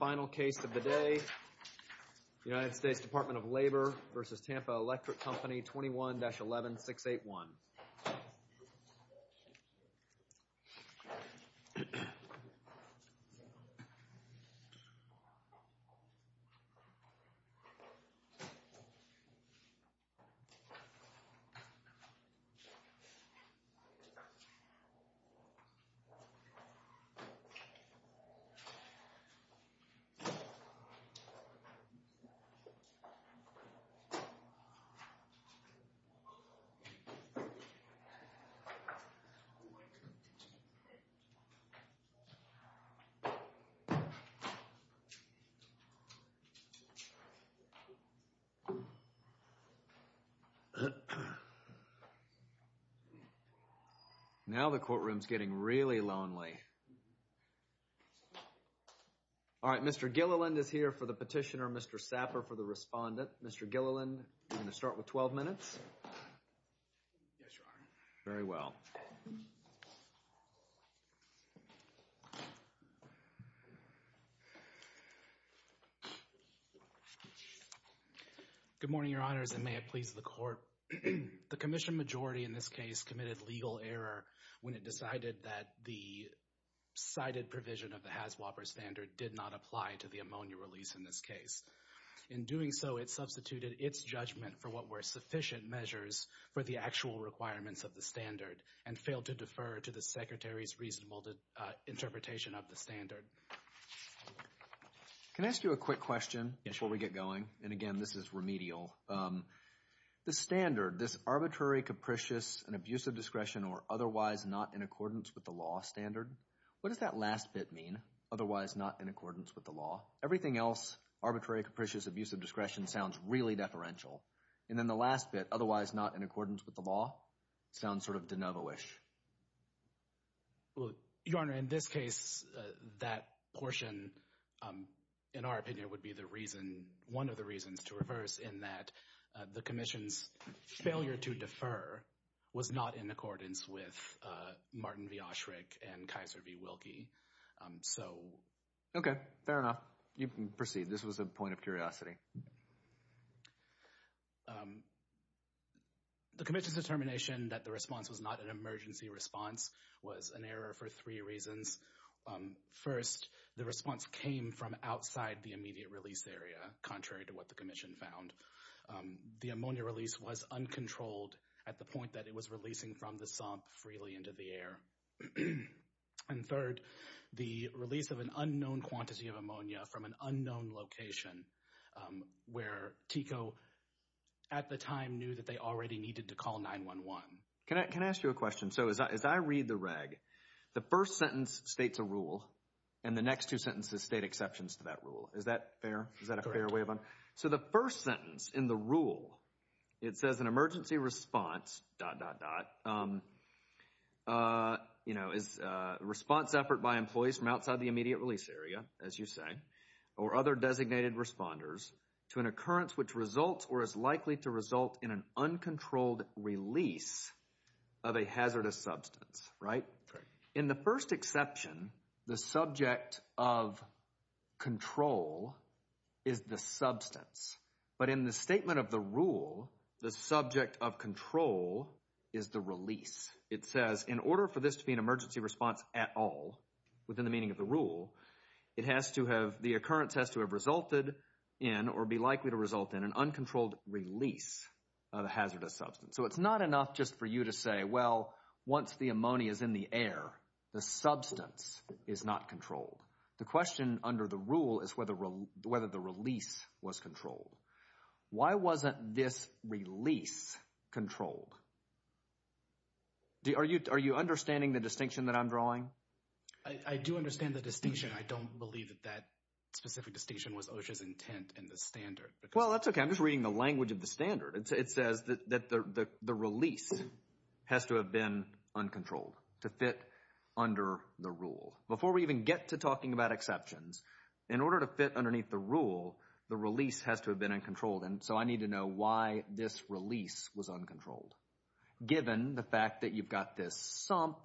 Final case of the day, U.S. Department of Labor v. Tampa Electric Company, 21-11681. Now the courtroom is getting really lonely. All right, Mr. Gilliland is here for the petitioner, Mr. Saffer for the respondent. Mr. Gilliland, you're going to start with 12 minutes. Yes, Your Honor. Very well. Good morning, Your Honors, and may it please the Court. The Commission majority in this case committed legal error when it decided that the cited provision of the HASWOPER standard did not apply to the ammonia release in this case. In doing so, it substituted its judgment for what were sufficient measures for the actual requirements of the standard and failed to defer to the Secretary's reasonable interpretation of the standard. Can I ask you a quick question before we get going? And again, this is remedial. The standard, this arbitrary, capricious, and abusive discretion, or otherwise not in accordance with the law standard, what does that last bit mean, otherwise not in accordance with the law? Everything else, arbitrary, capricious, abusive discretion, sounds really deferential. And then the last bit, otherwise not in accordance with the law, sounds sort of de novo-ish. Well, Your Honor, in this case, that portion, in our opinion, would be one of the reasons to reverse in that the Commission's failure to defer was not in accordance with Martin v. Osherick and Kaiser v. Wilkie. Okay, fair enough. You can proceed. This was a point of curiosity. The Commission's determination that the response was not an emergency response was an error for three reasons. First, the response came from outside the immediate release area, contrary to what the Commission found. The ammonia release was uncontrolled at the point that it was releasing from the sump freely into the air. And third, the release of an unknown quantity of ammonia from an unknown location where TICO at the time knew that they already needed to call 911. Can I ask you a question? So as I read the reg, the first sentence states a rule, and the next two sentences state exceptions to that rule. Is that fair? Is that a fair way of… Correct. So the first sentence in the rule, it says an emergency response… is a response effort by employees from outside the immediate release area, as you say, or other designated responders to an occurrence which results or is likely to result in an uncontrolled release of a hazardous substance, right? Correct. In the first exception, the subject of control is the substance. But in the statement of the rule, the subject of control is the release. It says in order for this to be an emergency response at all, within the meaning of the rule, it has to have—the occurrence has to have resulted in or be likely to result in an uncontrolled release of a hazardous substance. So it's not enough just for you to say, well, once the ammonia is in the air, the substance is not controlled. The question under the rule is whether the release was controlled. Why wasn't this release controlled? Are you understanding the distinction that I'm drawing? I do understand the distinction. I don't believe that that specific distinction was OSHA's intent in the standard. Well, that's okay. I'm just reading the language of the standard. It says that the release has to have been uncontrolled to fit under the rule. Before we even get to talking about exceptions, in order to fit underneath the rule, the release has to have been uncontrolled. And so I need to know why this release was uncontrolled. Given the fact that you've got this sump,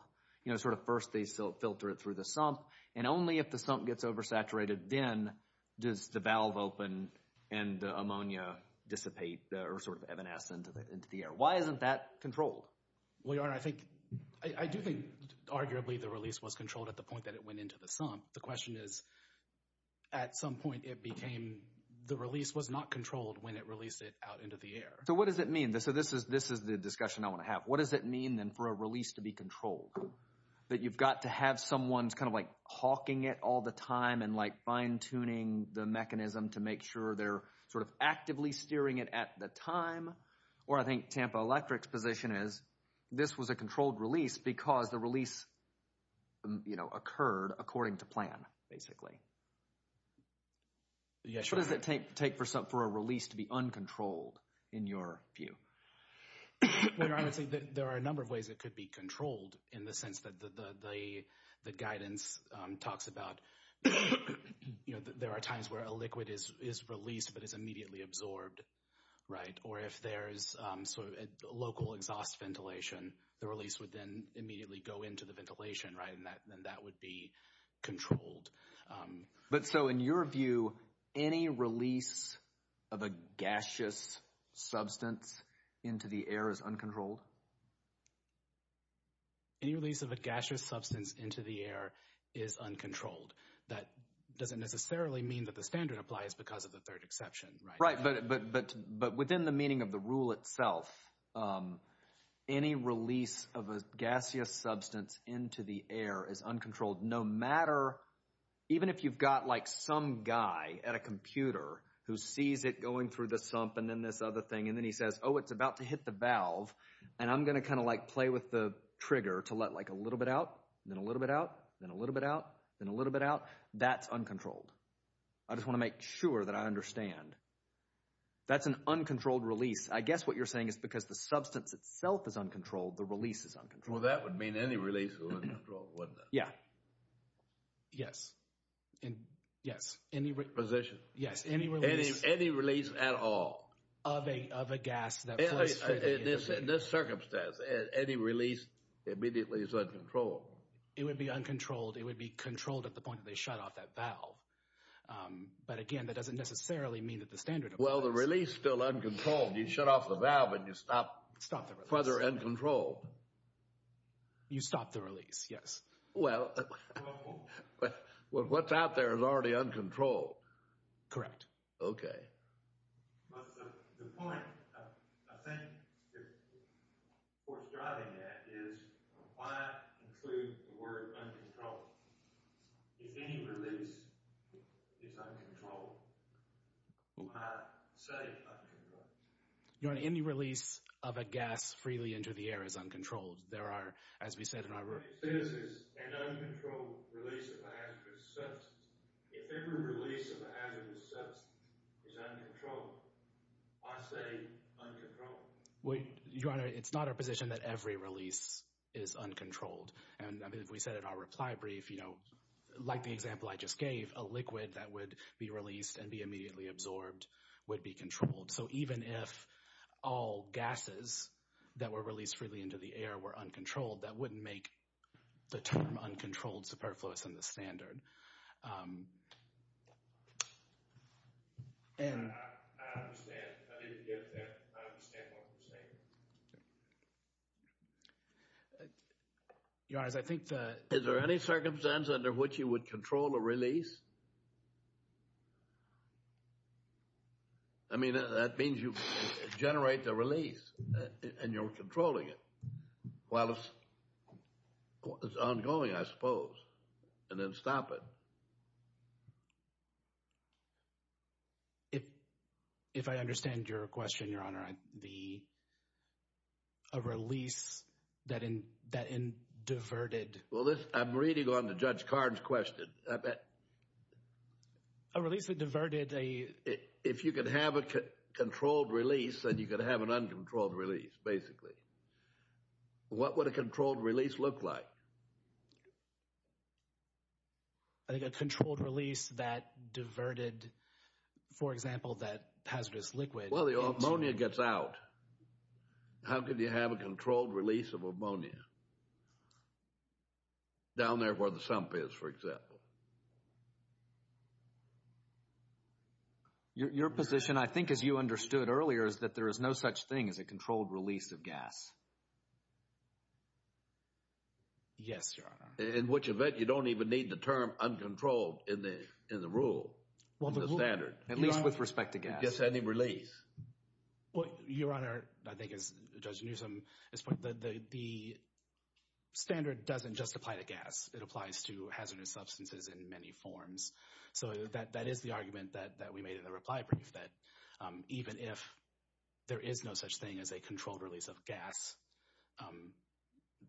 you know, sort of first they filter it through the sump, and only if the sump gets oversaturated then does the valve open and the ammonia dissipate or sort of evanesce into the air. Why isn't that controlled? I do think arguably the release was controlled at the point that it went into the sump. The question is, at some point it became the release was not controlled when it released it out into the air. So what does it mean? So this is the discussion I want to have. What does it mean then for a release to be controlled? That you've got to have someone kind of like hawking it all the time and like fine-tuning the mechanism to make sure they're sort of actively steering it at the time? Or I think Tampa Electric's position is this was a controlled release because the release, you know, occurred according to plan, basically. Yeah, sure. What does it take for a release to be uncontrolled, in your view? Well, I would say that there are a number of ways it could be controlled in the sense that the guidance talks about, you know, there are times where a liquid is released but is immediately absorbed, right? Or if there's sort of local exhaust ventilation, the release would then immediately go into the ventilation, right? And that would be controlled. But so in your view, any release of a gaseous substance into the air is uncontrolled? Any release of a gaseous substance into the air is uncontrolled. That doesn't necessarily mean that the standard applies because of the third exception, right? Right, but within the meaning of the rule itself, any release of a gaseous substance into the air is uncontrolled. No matter, even if you've got like some guy at a computer who sees it going through the sump and then this other thing, and then he says, oh, it's about to hit the valve, and I'm going to kind of like play with the trigger to let like a little bit out, then a little bit out, then a little bit out, then a little bit out, that's uncontrolled. I just want to make sure that I understand. That's an uncontrolled release. I guess what you're saying is because the substance itself is uncontrolled, the release is uncontrolled. Well, that would mean any release is uncontrolled, wouldn't it? Yeah. Yes. Yes. Position. Yes, any release. Any release at all. Of a gas that flows through the air. In this circumstance, any release immediately is uncontrolled. It would be uncontrolled. It would be controlled at the point that they shut off that valve. But again, that doesn't necessarily mean that the standard applies. Well, the release is still uncontrolled. You shut off the valve and you stop further uncontrolled. You stop the release, yes. Well, what's out there is already uncontrolled. Correct. Okay. The point I think you're driving at is why include the word uncontrolled? If any release is uncontrolled, I say uncontrolled. Your Honor, any release of a gas freely into the air is uncontrolled. There are, as we said in our— This is an uncontrolled release of a hazardous substance. If every release of a hazardous substance is uncontrolled, I say uncontrolled. Your Honor, it's not our position that every release is uncontrolled. And as we said in our reply brief, like the example I just gave, a liquid that would be released and be immediately absorbed would be controlled. So even if all gases that were released freely into the air were uncontrolled, that wouldn't make the term uncontrolled superfluous in the standard. I understand. I understand what you're saying. Your Honor, I think that— Is there any circumstance under which you would control a release? I mean, that means you generate the release and you're controlling it while it's ongoing, I suppose, and then stop it. If I understand your question, Your Honor, a release that diverted— Well, I'm reading on to Judge Card's question. A release that diverted a— If you could have a controlled release and you could have an uncontrolled release, basically, what would a controlled release look like? I think a controlled release that diverted, for example, that hazardous liquid— Well, the ammonia gets out. How could you have a controlled release of ammonia? Down there where the sump is, for example. Your position, I think, as you understood earlier, is that there is no such thing as a controlled release of gas. Yes, Your Honor. In which event, you don't even need the term uncontrolled in the rule, in the standard. At least with respect to gas. Just any release. Well, Your Honor, I think as Judge Newsom has pointed out, the standard doesn't just apply to gas. It applies to hazardous substances in many forms. So that is the argument that we made in the reply brief, that even if there is no such thing as a controlled release of gas,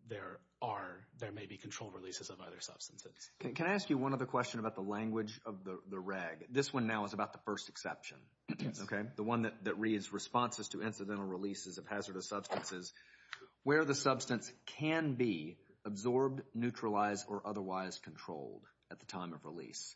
there are—there may be controlled releases of other substances. Can I ask you one other question about the language of the reg? This one now is about the first exception. Yes. Okay? The one that reads, responses to incidental releases of hazardous substances. Where the substance can be absorbed, neutralized, or otherwise controlled at the time of release.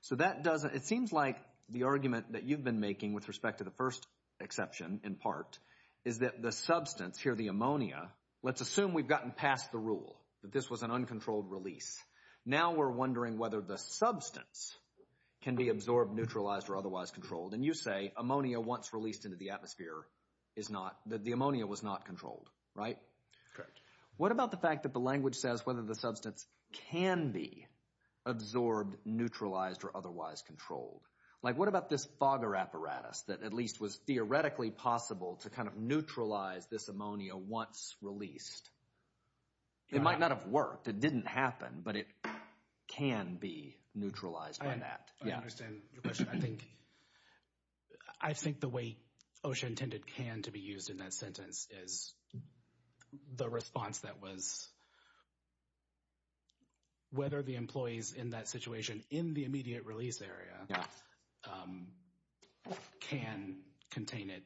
So that doesn't—it seems like the argument that you've been making with respect to the first exception, in part, is that the substance here, the ammonia—let's assume we've gotten past the rule that this was an uncontrolled release. Now we're wondering whether the substance can be absorbed, neutralized, or otherwise controlled. And you say ammonia once released into the atmosphere is not—the ammonia was not controlled, right? Correct. What about the fact that the language says whether the substance can be absorbed, neutralized, or otherwise controlled? Like what about this fogger apparatus that at least was theoretically possible to kind of neutralize this ammonia once released? It might not have worked. It didn't happen, but it can be neutralized by that. I understand your question. I think the way OSHA intended can to be used in that sentence is the response that was whether the employees in that situation, in the immediate release area, can contain it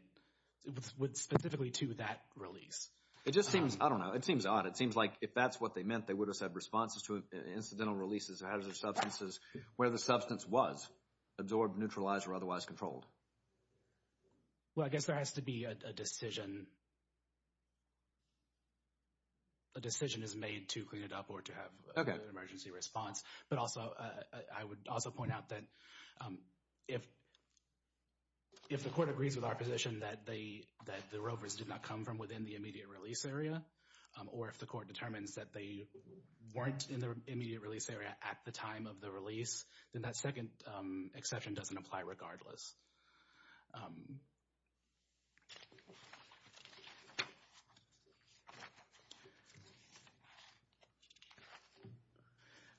specifically to that release. It just seems—I don't know—it seems odd. It seems like if that's what they meant, they would have said responses to incidental releases of hazardous substances where the substance was absorbed, neutralized, or otherwise controlled. Well, I guess there has to be a decision. A decision is made to clean it up or to have an emergency response. But also, I would also point out that if the court agrees with our position that the rovers did not come from within the immediate release area, or if the court determines that they weren't in the immediate release area at the time of the release, then that second exception doesn't apply regardless.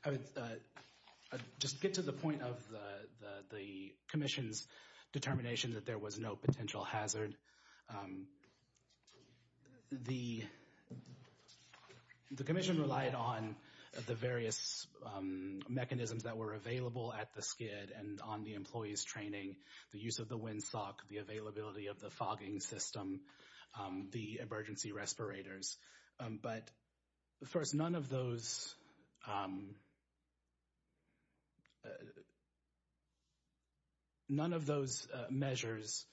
I would just get to the point of the Commission's determination that there was no potential hazard. The Commission relied on the various mechanisms that were available at the SCID and on the employees' training, the use of the windsock, the availability of the fogging system, the emergency respirators. But first, none of those measures,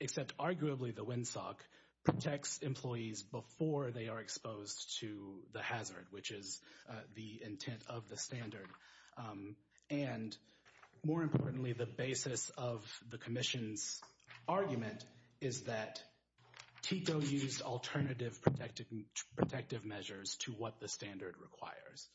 except arguably the windsock, protects employees before they are exposed to the hazard, which is the intent of the standard. And more importantly, the basis of the Commission's argument is that TICO used alternative protective measures to what the standard requires.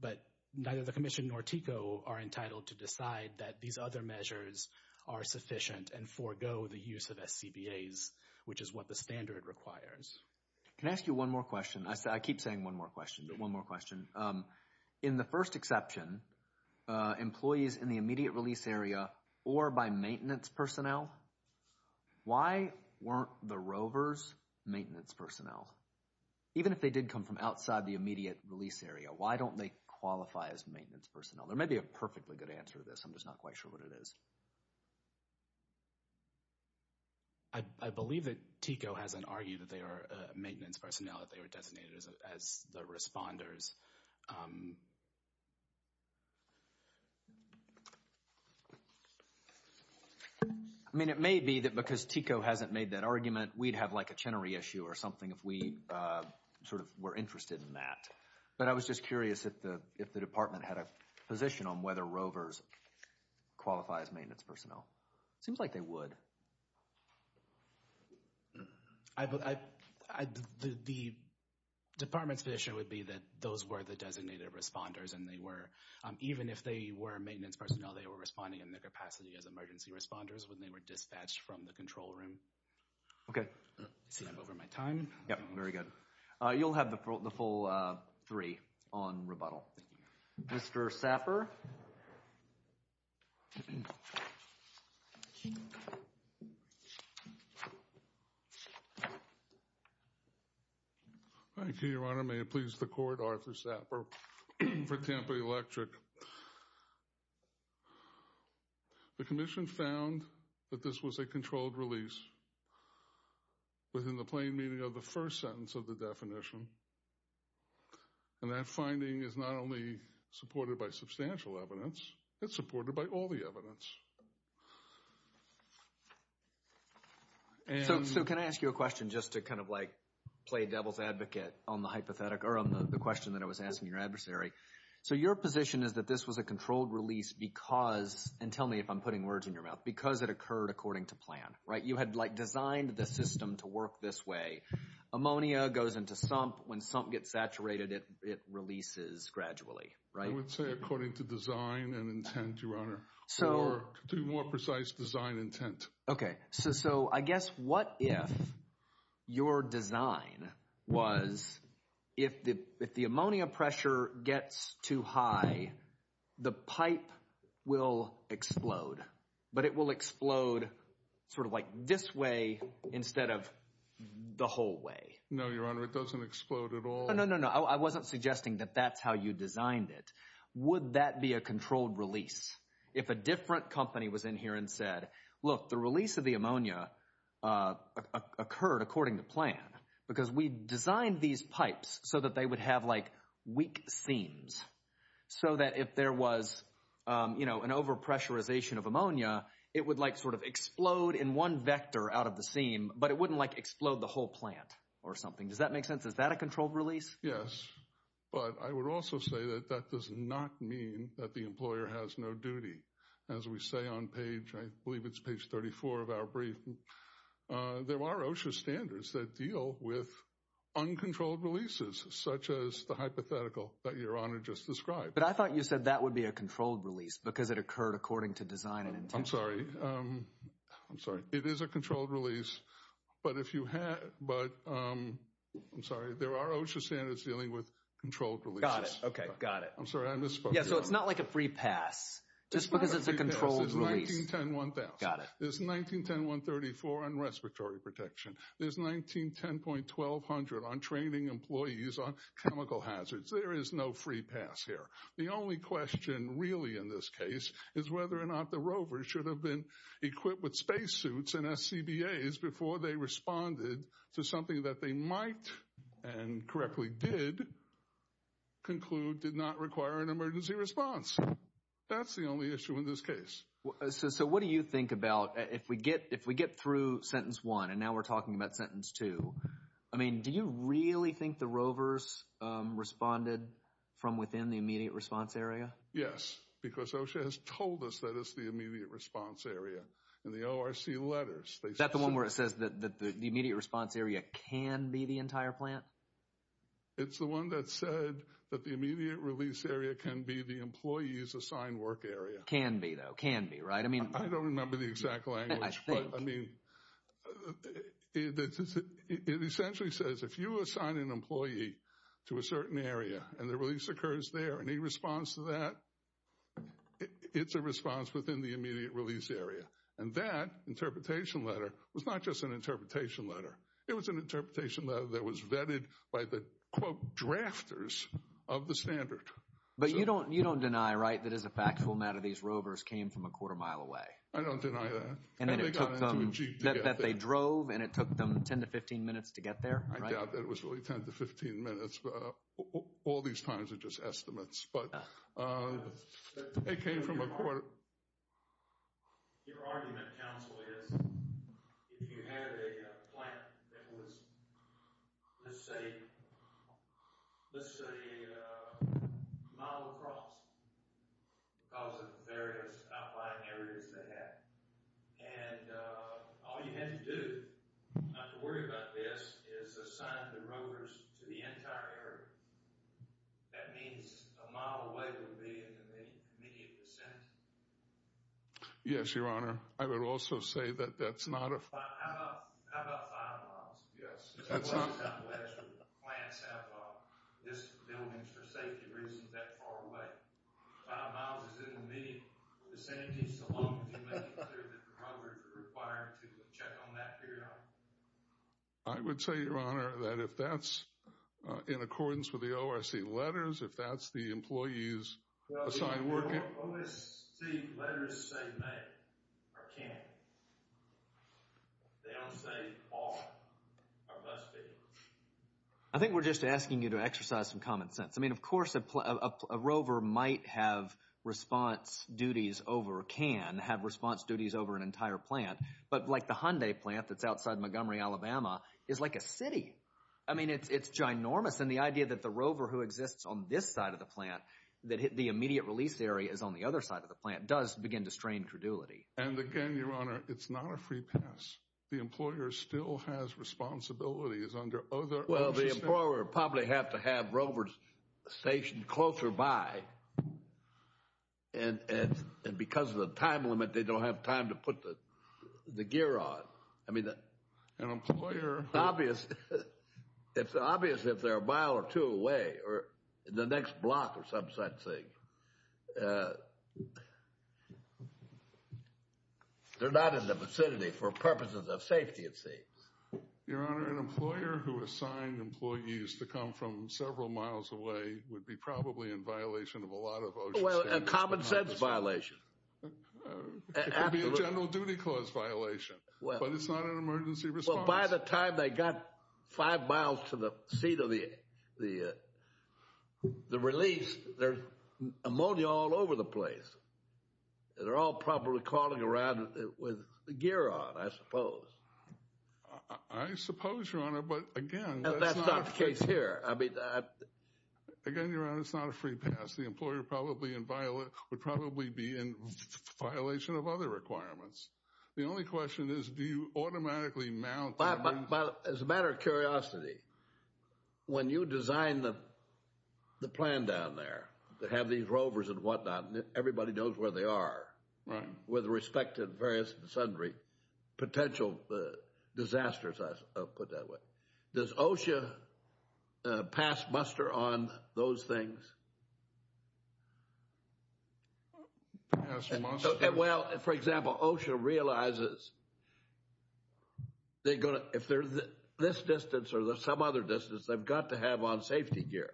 But neither the Commission nor TICO are entitled to decide that these other measures are sufficient and forego the use of SCBAs, which is what the standard requires. Can I ask you one more question? I keep saying one more question, but one more question. In the first exception, employees in the immediate release area or by maintenance personnel, why weren't the rovers maintenance personnel? Even if they did come from outside the immediate release area, why don't they qualify as maintenance personnel? There may be a perfectly good answer to this. I'm just not quite sure what it is. I believe that TICO hasn't argued that they are maintenance personnel, that they were designated as the responders. I mean, it may be that because TICO hasn't made that argument, we'd have like a Chenery issue or something if we sort of were interested in that. But I was just curious if the department had a position on whether rovers qualify as maintenance personnel. It seems like they would. The department's position would be that those were the designated responders and they were, even if they were maintenance personnel, they were responding in their capacity as emergency responders when they were dispatched from the control room. Okay. I see I'm over my time. Yep, very good. You'll have the full three on rebuttal. Thank you. Mr. Sapper. Thank you, Your Honor. May it please the Court, Arthur Sapper for Tampa Electric. Thank you. The Commission found that this was a controlled release within the plain meaning of the first sentence of the definition. And that finding is not only supported by substantial evidence, it's supported by all the evidence. So can I ask you a question just to kind of like play devil's advocate on the question that I was asking your adversary? So your position is that this was a controlled release because, and tell me if I'm putting words in your mouth, because it occurred according to plan, right? You had like designed the system to work this way. Ammonia goes into sump. When sump gets saturated, it releases gradually, right? I would say according to design and intent, Your Honor. Or to be more precise, design intent. Okay. So I guess what if your design was if the ammonia pressure gets too high, the pipe will explode. But it will explode sort of like this way instead of the whole way. No, Your Honor. It doesn't explode at all. No, no, no. I wasn't suggesting that that's how you designed it. Would that be a controlled release? If a different company was in here and said, look, the release of the ammonia occurred according to plan. Because we designed these pipes so that they would have like weak seams. So that if there was, you know, an over pressurization of ammonia, it would like sort of explode in one vector out of the seam. But it wouldn't like explode the whole plant or something. Does that make sense? Is that a controlled release? Yes. But I would also say that that does not mean that the employer has no duty. As we say on page, I believe it's page 34 of our brief. There are OSHA standards that deal with uncontrolled releases such as the hypothetical that Your Honor just described. But I thought you said that would be a controlled release because it occurred according to design and intent. I'm sorry. I'm sorry. It is a controlled release. But if you had but I'm sorry, there are OSHA standards dealing with controlled release. Got it. OK. Got it. I'm sorry. I misspoke. Yeah. So it's not like a free pass just because it's a controlled release. There's 1910-1000. There's 1910-134 on respiratory protection. There's 1910.1200 on training employees on chemical hazards. There is no free pass here. The only question really in this case is whether or not the rovers should have been equipped with spacesuits and SCBAs before they responded to something that they might and correctly did conclude did not require an emergency response. That's the only issue in this case. So what do you think about if we get if we get through sentence one and now we're talking about sentence two? I mean, do you really think the rovers responded from within the immediate response area? Yes, because OSHA has told us that it's the immediate response area in the ORC letters. Is that the one where it says that the immediate response area can be the entire plant? It's the one that said that the immediate release area can be the employees assigned work area. Can be, though. Can be, right? I don't remember the exact language. I mean, it essentially says if you assign an employee to a certain area and the release occurs there and he responds to that, it's a response within the immediate release area. And that interpretation letter was not just an interpretation letter. It was an interpretation letter that was vetted by the, quote, drafters of the standard. But you don't you don't deny, right, that as a factual matter, these rovers came from a quarter mile away. I don't deny that. And that they drove and it took them 10 to 15 minutes to get there. I doubt that it was really 10 to 15 minutes. All these times are just estimates. But they came from a quarter. Your argument, counsel, is if you had a plant that was, let's say, let's say a mile across because of the various outlying areas they had. And all you had to do not to worry about this is assign the rovers to the entire area. That means a mile away would be in the immediate vicinity. Yes, Your Honor. I would also say that that's not a. How about five miles? Yes. That's not. Plants have this building for safety reasons that far away. Five miles is in the immediate vicinity so long as you make it clear that the rovers are required to check on that area. I would say, Your Honor, that if that's in accordance with the ORC letters, if that's the employees assigned working. The ORC letters say may or can. They don't say all or less be. I think we're just asking you to exercise some common sense. I mean, of course, a rover might have response duties over a can, have response duties over an entire plant. But like the Hyundai plant that's outside Montgomery, Alabama, is like a city. I mean, it's ginormous. And the idea that the rover who exists on this side of the plant, that the immediate release area is on the other side of the plant, does begin to strain credulity. And again, Your Honor, it's not a free pass. The employer still has responsibilities under other. Well, the employer would probably have to have rovers stationed closer by. And because of the time limit, they don't have time to put the gear on. I mean, it's obvious if they're a mile or two away or the next block or some such thing. They're not in the vicinity for purposes of safety, it seems. Your Honor, an employer who assigned employees to come from several miles away would be probably in violation of a lot of ocean standards. Well, a common sense violation. It could be a general duty clause violation. But it's not an emergency response. Well, by the time they got five miles to the seat of the release, there's ammonia all over the place. They're all probably crawling around with the gear on, I suppose. I suppose, Your Honor, but again... That's not the case here. Again, Your Honor, it's not a free pass. The employer would probably be in violation of other requirements. The only question is, do you automatically mount... As a matter of curiosity, when you design the plan down there that have these rovers and whatnot, everybody knows where they are with respect to various potential disasters, I'll put it that way. Does OSHA pass muster on those things? Pass muster? Well, for example, OSHA realizes if they're this distance or some other distance, they've got to have on safety gear.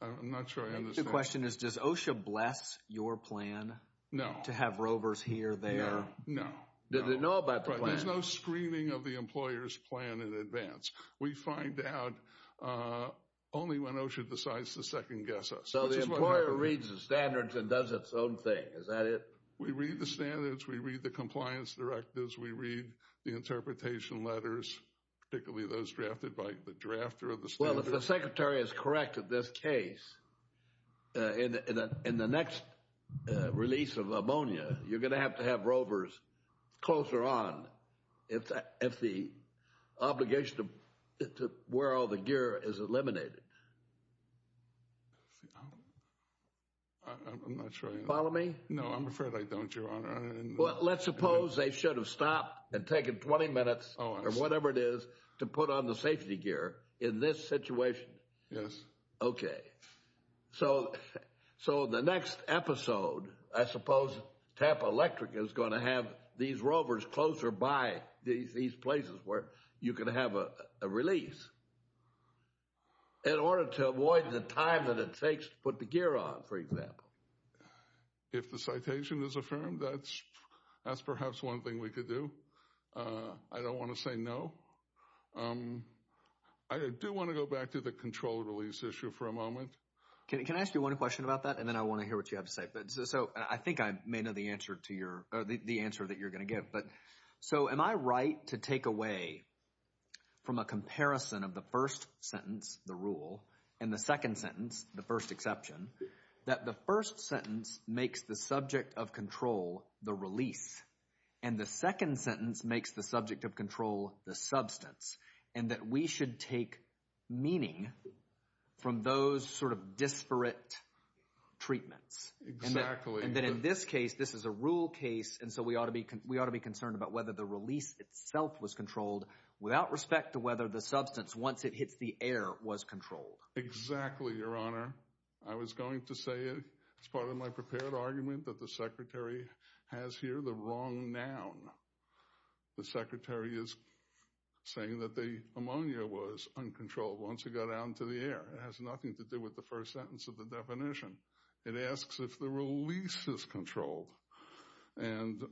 I'm not sure I understand. The question is, does OSHA bless your plan to have rovers here, there? No. Do they know about the plan? There's no screening of the employer's plan in advance. We find out only when OSHA decides to second-guess us. So the employer reads the standards and does its own thing, is that it? We read the standards. We read the compliance directives. We read the interpretation letters, particularly those drafted by the drafter of the standards. Well, if the Secretary is correct in this case, in the next release of ammonia, you're going to have to have rovers closer on if the obligation to wear all the gear is eliminated. I'm not sure I understand. Follow me? Well, let's suppose they should have stopped and taken 20 minutes or whatever it is to put on the safety gear in this situation. Yes. Okay. So the next episode, I suppose Tampa Electric is going to have these rovers closer by these places where you can have a release in order to avoid the time that it takes to put the gear on, for example. If the citation is affirmed, that's perhaps one thing we could do. I don't want to say no. I do want to go back to the control release issue for a moment. Can I ask you one question about that, and then I want to hear what you have to say? So I think I may know the answer that you're going to give. So am I right to take away from a comparison of the first sentence, the rule, and the second sentence, the first exception, that the first sentence makes the subject of control the release, and the second sentence makes the subject of control the substance, and that we should take meaning from those sort of disparate treatments? Exactly. And that in this case, this is a rule case, and so we ought to be concerned about whether the release itself was controlled without respect to whether the substance, once it hits the air, was controlled. Exactly, Your Honor. I was going to say as part of my prepared argument that the Secretary has here the wrong noun. The Secretary is saying that the ammonia was uncontrolled once it got out into the air. It has nothing to do with the first sentence of the definition. It asks if the release is controlled, and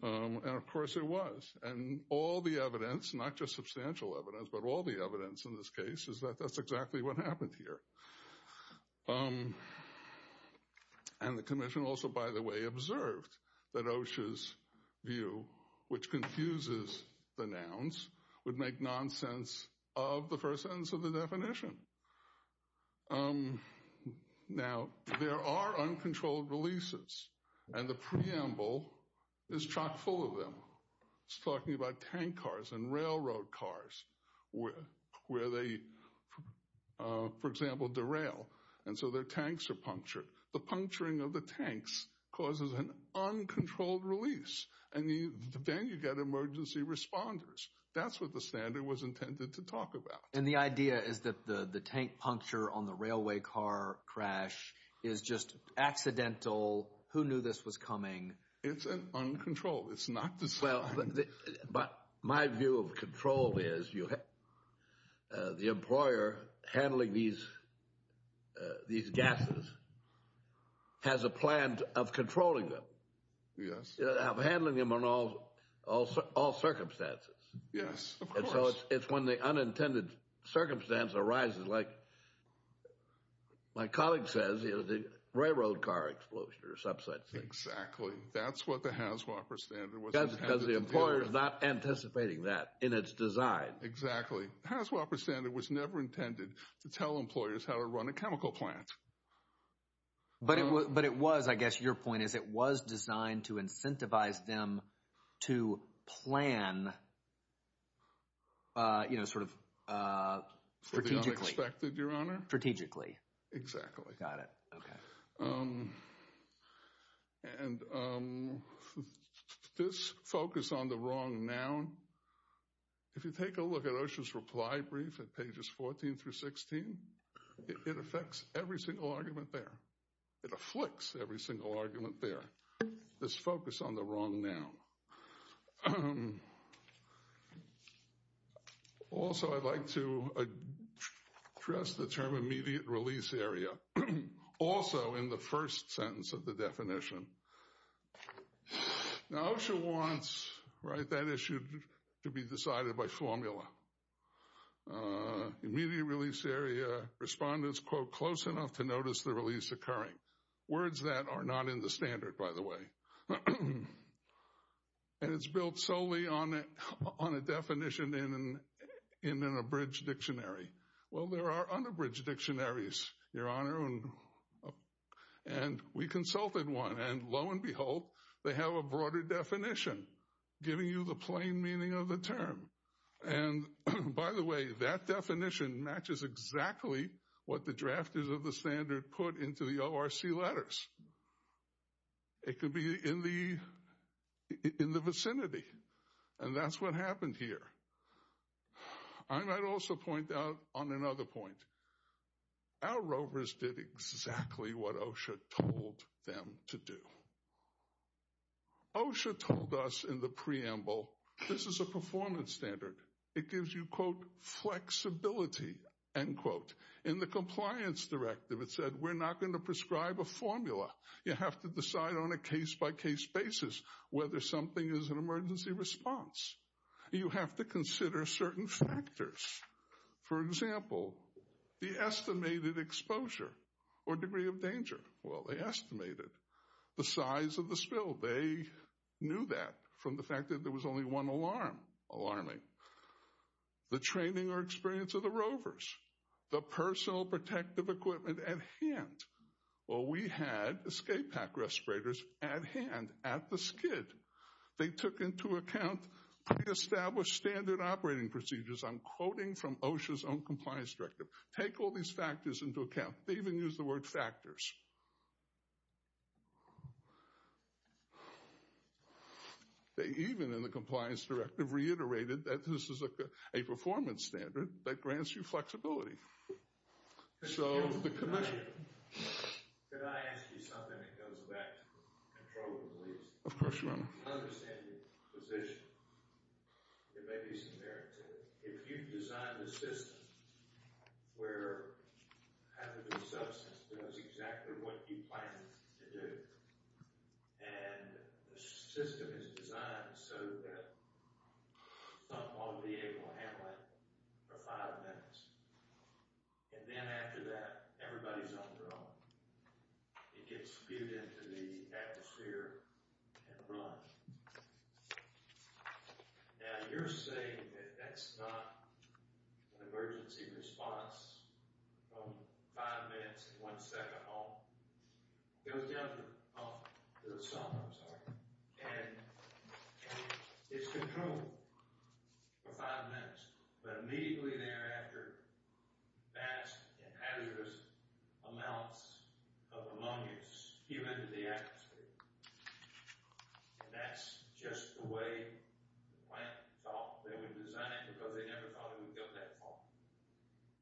of course it was. And all the evidence, not just substantial evidence, but all the evidence in this case, is that that's exactly what happened here. And the Commission also, by the way, observed that Osh's view, which confuses the nouns, would make nonsense of the first sentence of the definition. Now, there are uncontrolled releases, and the preamble is chock full of them. It's talking about tank cars and railroad cars where they, for example, derail, and so their tanks are punctured. The puncturing of the tanks causes an uncontrolled release, and then you get emergency responders. That's what the standard was intended to talk about. And the idea is that the tank puncture on the railway car crash is just accidental. Who knew this was coming? It's uncontrolled. It's not designed. But my view of control is the employer handling these gases has a plan of controlling them. Yes. Of handling them in all circumstances. Yes, of course. And so it's when the unintended circumstance arises, like my colleague says, the railroad car explosion or something. Exactly. That's what the HASWAPER standard was intended to do. Because the employer is not anticipating that in its design. Exactly. The HASWAPER standard was never intended to tell employers how to run a chemical plant. But it was, I guess your point is, it was designed to incentivize them to plan, you know, sort of strategically. For the unexpected, Your Honor. Strategically. Exactly. Got it. Okay. And this focus on the wrong noun. If you take a look at OSHA's reply brief at pages 14 through 16, it affects every single argument there. It afflicts every single argument there. This focus on the wrong noun. Also, I'd like to address the term immediate release area. Also, in the first sentence of the definition. Now, OSHA wants that issue to be decided by formula. Immediate release area. Respondents, quote, close enough to notice the release occurring. Words that are not in the standard, by the way. And it's built solely on a definition in an abridged dictionary. Well, there are unabridged dictionaries, Your Honor, and we consulted one. And lo and behold, they have a broader definition, giving you the plain meaning of the term. And, by the way, that definition matches exactly what the drafters of the standard put into the ORC letters. It could be in the vicinity. And that's what happened here. I might also point out on another point. Our rovers did exactly what OSHA told them to do. OSHA told us in the preamble, this is a performance standard. It gives you, quote, flexibility, end quote. In the compliance directive, it said we're not going to prescribe a formula. You have to decide on a case-by-case basis whether something is an emergency response. You have to consider certain factors. For example, the estimated exposure or degree of danger. Well, they estimated. The size of the spill, they knew that from the fact that there was only one alarm, alarming. The training or experience of the rovers. The personal protective equipment at hand. Well, we had escape pack respirators at hand at the skid. They took into account pre-established standard operating procedures. I'm quoting from OSHA's own compliance directive. Take all these factors into account. They even used the word factors. They even, in the compliance directive, reiterated that this is a performance standard that grants you flexibility. So the commission... Of course, Your Honor. I understand your position. It may be subparative. If you've designed a system where hazardous substance does exactly what you plan to do, and the system is designed so that someone will be able to handle it for five minutes, and then after that, everybody's on their own, it gets spewed into the atmosphere and run. Now, you're saying that that's not an emergency response from five minutes and one second on. It was the other. Oh, there was some. I'm sorry. And it's controlled for five minutes. But immediately thereafter, vast and hazardous amounts of ammonia spew into the atmosphere. That's just the way the plant thought they would design it because they never thought it would go that far.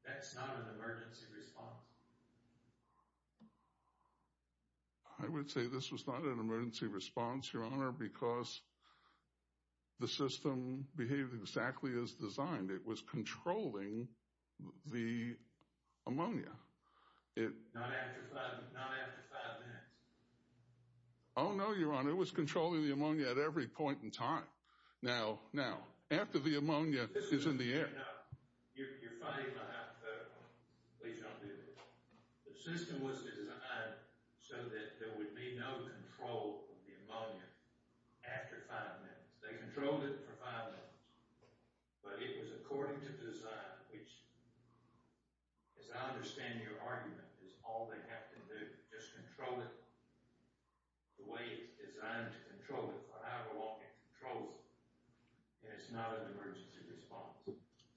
That's not an emergency response. I would say this was not an emergency response, Your Honor, because the system behaved exactly as designed. It was controlling the ammonia. Not after five minutes. Oh, no, Your Honor. It was controlling the ammonia at every point in time. Now, after the ammonia is in the air. You're fighting my hypothetical. Please don't do this. The system was designed so that there would be no control of the ammonia after five minutes. They controlled it for five minutes. But it was according to design, which, as I understand your argument, is all they have to do. Just control it the way it's designed to control it for however long it controls it. And it's not an emergency response.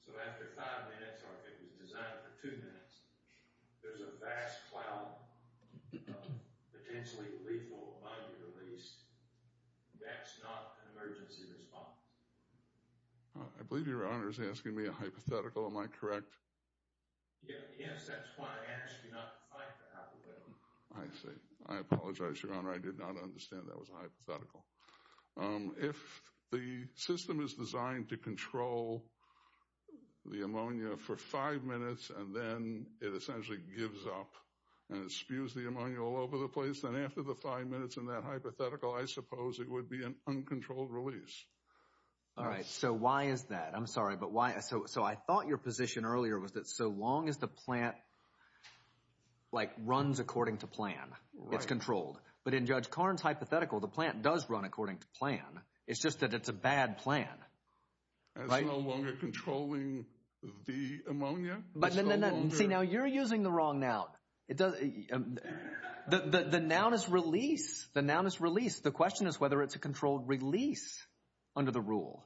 So after five minutes, or if it was designed for two minutes, there's a vast cloud of potentially lethal ammonia released. That's not an emergency response. I believe Your Honor is asking me a hypothetical. Am I correct? Yes, that's why I asked you not to fight the hypothetical. I see. I apologize, Your Honor. I did not understand that was a hypothetical. If the system is designed to control the ammonia for five minutes, and then it essentially gives up, and it spews the ammonia all over the place, then after the five minutes in that hypothetical, I suppose it would be an uncontrolled release. All right. So why is that? I'm sorry, but why? So I thought your position earlier was that so long as the plant, like, runs according to plan, it's controlled. But in Judge Karn's hypothetical, the plant does run according to plan. It's just that it's a bad plan. It's no longer controlling the ammonia? No, no, no. See, now you're using the wrong noun. The noun is release. The noun is release. The question is whether it's a controlled release under the rule.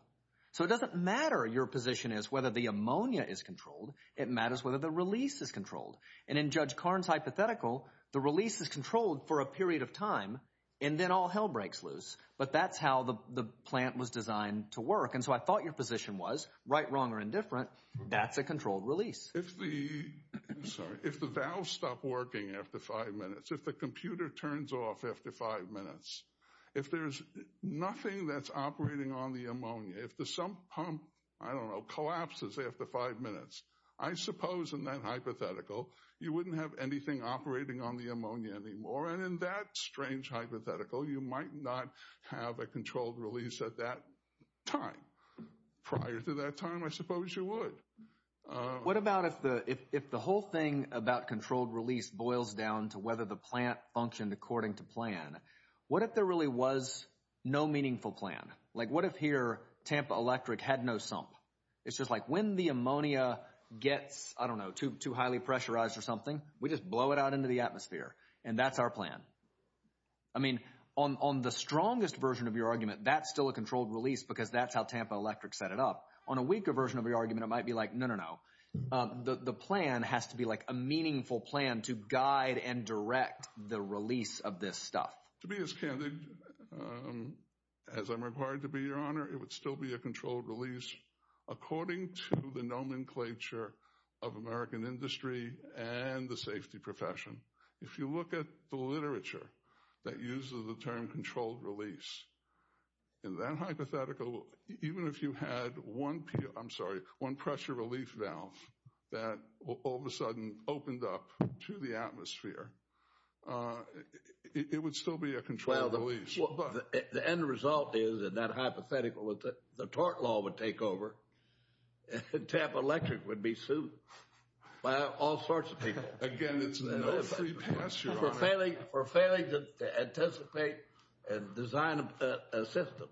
So it doesn't matter, your position is, whether the ammonia is controlled. It matters whether the release is controlled. And in Judge Karn's hypothetical, the release is controlled for a period of time, and then all hell breaks loose. But that's how the plant was designed to work. And so I thought your position was, right, wrong, or indifferent, that's a controlled release. If the valve stopped working after five minutes, if the computer turns off after five minutes, if there's nothing that's operating on the ammonia, if the sump pump, I don't know, collapses after five minutes, I suppose in that hypothetical, you wouldn't have anything operating on the ammonia anymore. And in that strange hypothetical, you might not have a controlled release at that time. Prior to that time, I suppose you would. What about if the whole thing about controlled release boils down to whether the plant functioned according to plan? What if there really was no meaningful plan? Like what if here, Tampa Electric had no sump? It's just like when the ammonia gets, I don't know, too highly pressurized or something, we just blow it out into the atmosphere, and that's our plan. I mean, on the strongest version of your argument, that's still a controlled release because that's how Tampa Electric set it up. On a weaker version of your argument, it might be like, no, no, no. The plan has to be like a meaningful plan to guide and direct the release of this stuff. To be as candid as I'm required to be, Your Honor, it would still be a controlled release, according to the nomenclature of American industry and the safety profession. If you look at the literature that uses the term controlled release, in that hypothetical, even if you had one pressure relief valve that all of a sudden opened up to the atmosphere, it would still be a controlled release. Well, the end result is, in that hypothetical, the tort law would take over, and Tampa Electric would be sued by all sorts of people. Again, it's no free pass, Your Honor. For failing to anticipate and design a system.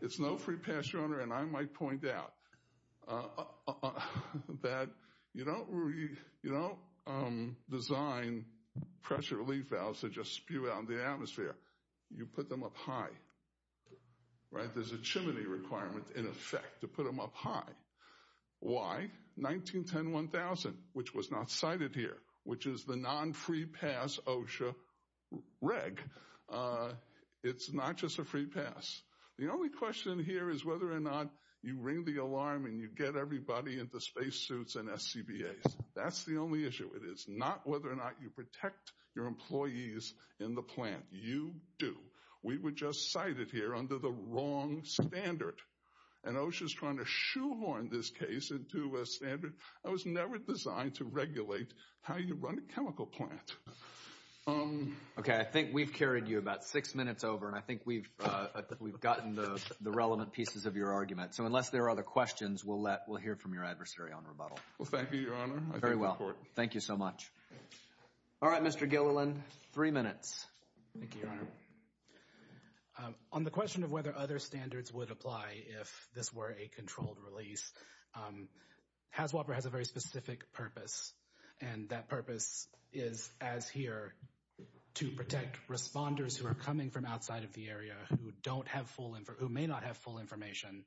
It's no free pass, Your Honor. And I might point out that you don't design pressure relief valves to just spew out in the atmosphere. You put them up high. Right? There's a chimney requirement, in effect, to put them up high. Why? 1910-1000, which was not cited here, which is the non-free pass OSHA reg. It's not just a free pass. The only question here is whether or not you ring the alarm and you get everybody into spacesuits and SCBAs. That's the only issue. It is not whether or not you protect your employees in the plant. You do. We were just cited here under the wrong standard. And OSHA is trying to shoehorn this case into a standard that was never designed to regulate how you run a chemical plant. Okay. I think we've carried you about six minutes over, and I think we've gotten the relevant pieces of your argument. So unless there are other questions, we'll hear from your adversary on rebuttal. Well, thank you, Your Honor. Very well. Thank you so much. All right, Mr. Gilliland, three minutes. Thank you, Your Honor. On the question of whether other standards would apply if this were a controlled release, HAZWOPER has a very specific purpose, and that purpose is, as here, to protect responders who are coming from outside of the area who may not have full information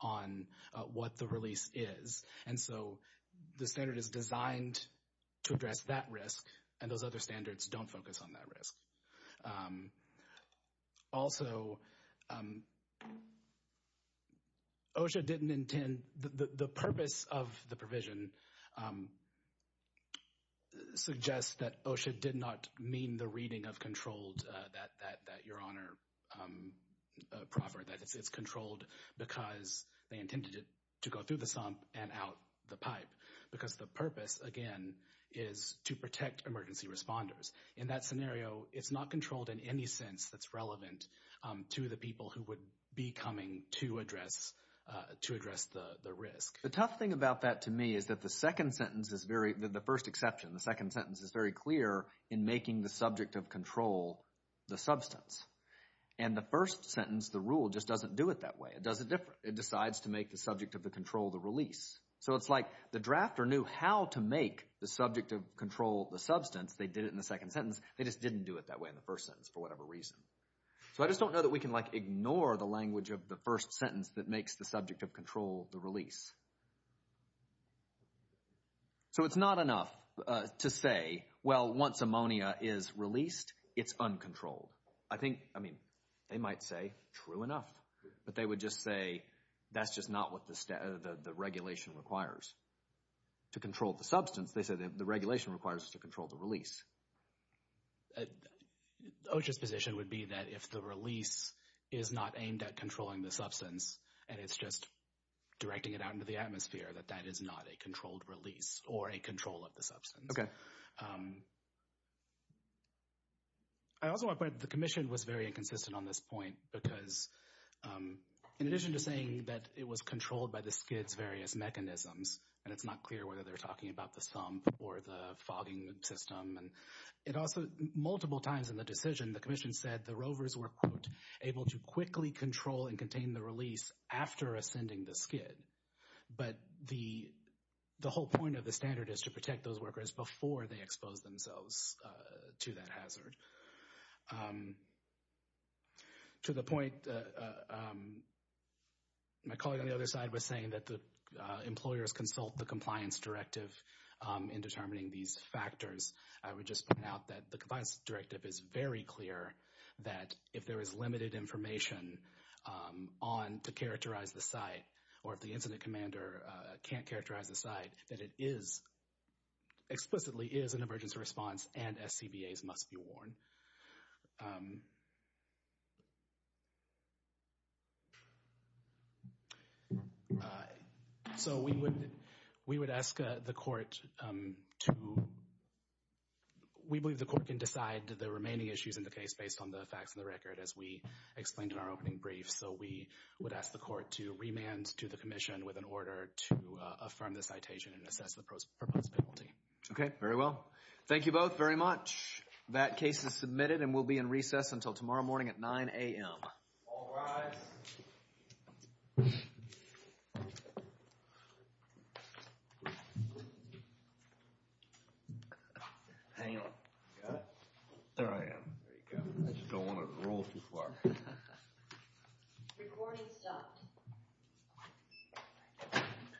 on what the release is. And so the standard is designed to address that risk, and those other standards don't focus on that risk. Also, OSHA didn't intend – the purpose of the provision suggests that OSHA did not mean the reading of controlled, that Your Honor proffered, that it's controlled because they intended it to go through the sump and out the pipe, because the purpose, again, is to protect emergency responders. In that scenario, it's not controlled in any sense that's relevant to the people who would be coming to address the risk. The tough thing about that to me is that the second sentence is very – the first exception, the second sentence is very clear in making the subject of control the substance. And the first sentence, the rule, just doesn't do it that way. It does it different. It decides to make the subject of the control the release. So it's like the drafter knew how to make the subject of control the substance. They did it in the second sentence. They just didn't do it that way in the first sentence for whatever reason. So I just don't know that we can, like, ignore the language of the first sentence that makes the subject of control the release. So it's not enough to say, well, once ammonia is released, it's uncontrolled. I think, I mean, they might say true enough, but they would just say that's just not what the regulation requires. To control the substance, they said the regulation requires us to control the release. OSHA's position would be that if the release is not aimed at controlling the substance and it's just directing it out into the atmosphere, that that is not a controlled release or a control of the substance. Okay. I also want to point out that the Commission was very inconsistent on this point because, in addition to saying that it was controlled by the SCID's various mechanisms, and it's not clear whether they're talking about the sump or the fogging system, and it also, multiple times in the decision, the Commission said the rovers were, quote, able to quickly control and contain the release after ascending the SCID. But the whole point of the standard is to protect those workers before they expose themselves to that hazard. To the point, my colleague on the other side was saying that the employers consult the compliance directive in determining these factors. I would just point out that the compliance directive is very clear that if there is limited information on, to characterize the site, or if the incident commander can't characterize the site, that it is, explicitly is an emergency response and SCBAs must be warned. So we would ask the Court to, we believe the Court can decide the remaining issues in the case based on the facts of the record, as we explained in our opening brief. So we would ask the Court to remand to the Commission with an order to affirm the citation and assess the proposed penalty. Okay, very well. Thank you both very much. That case is submitted and will be in recess until tomorrow morning at 9 a.m. All rise. Hang on. Got it? There I am. There you go. I just don't want to roll too far. Recording stopped.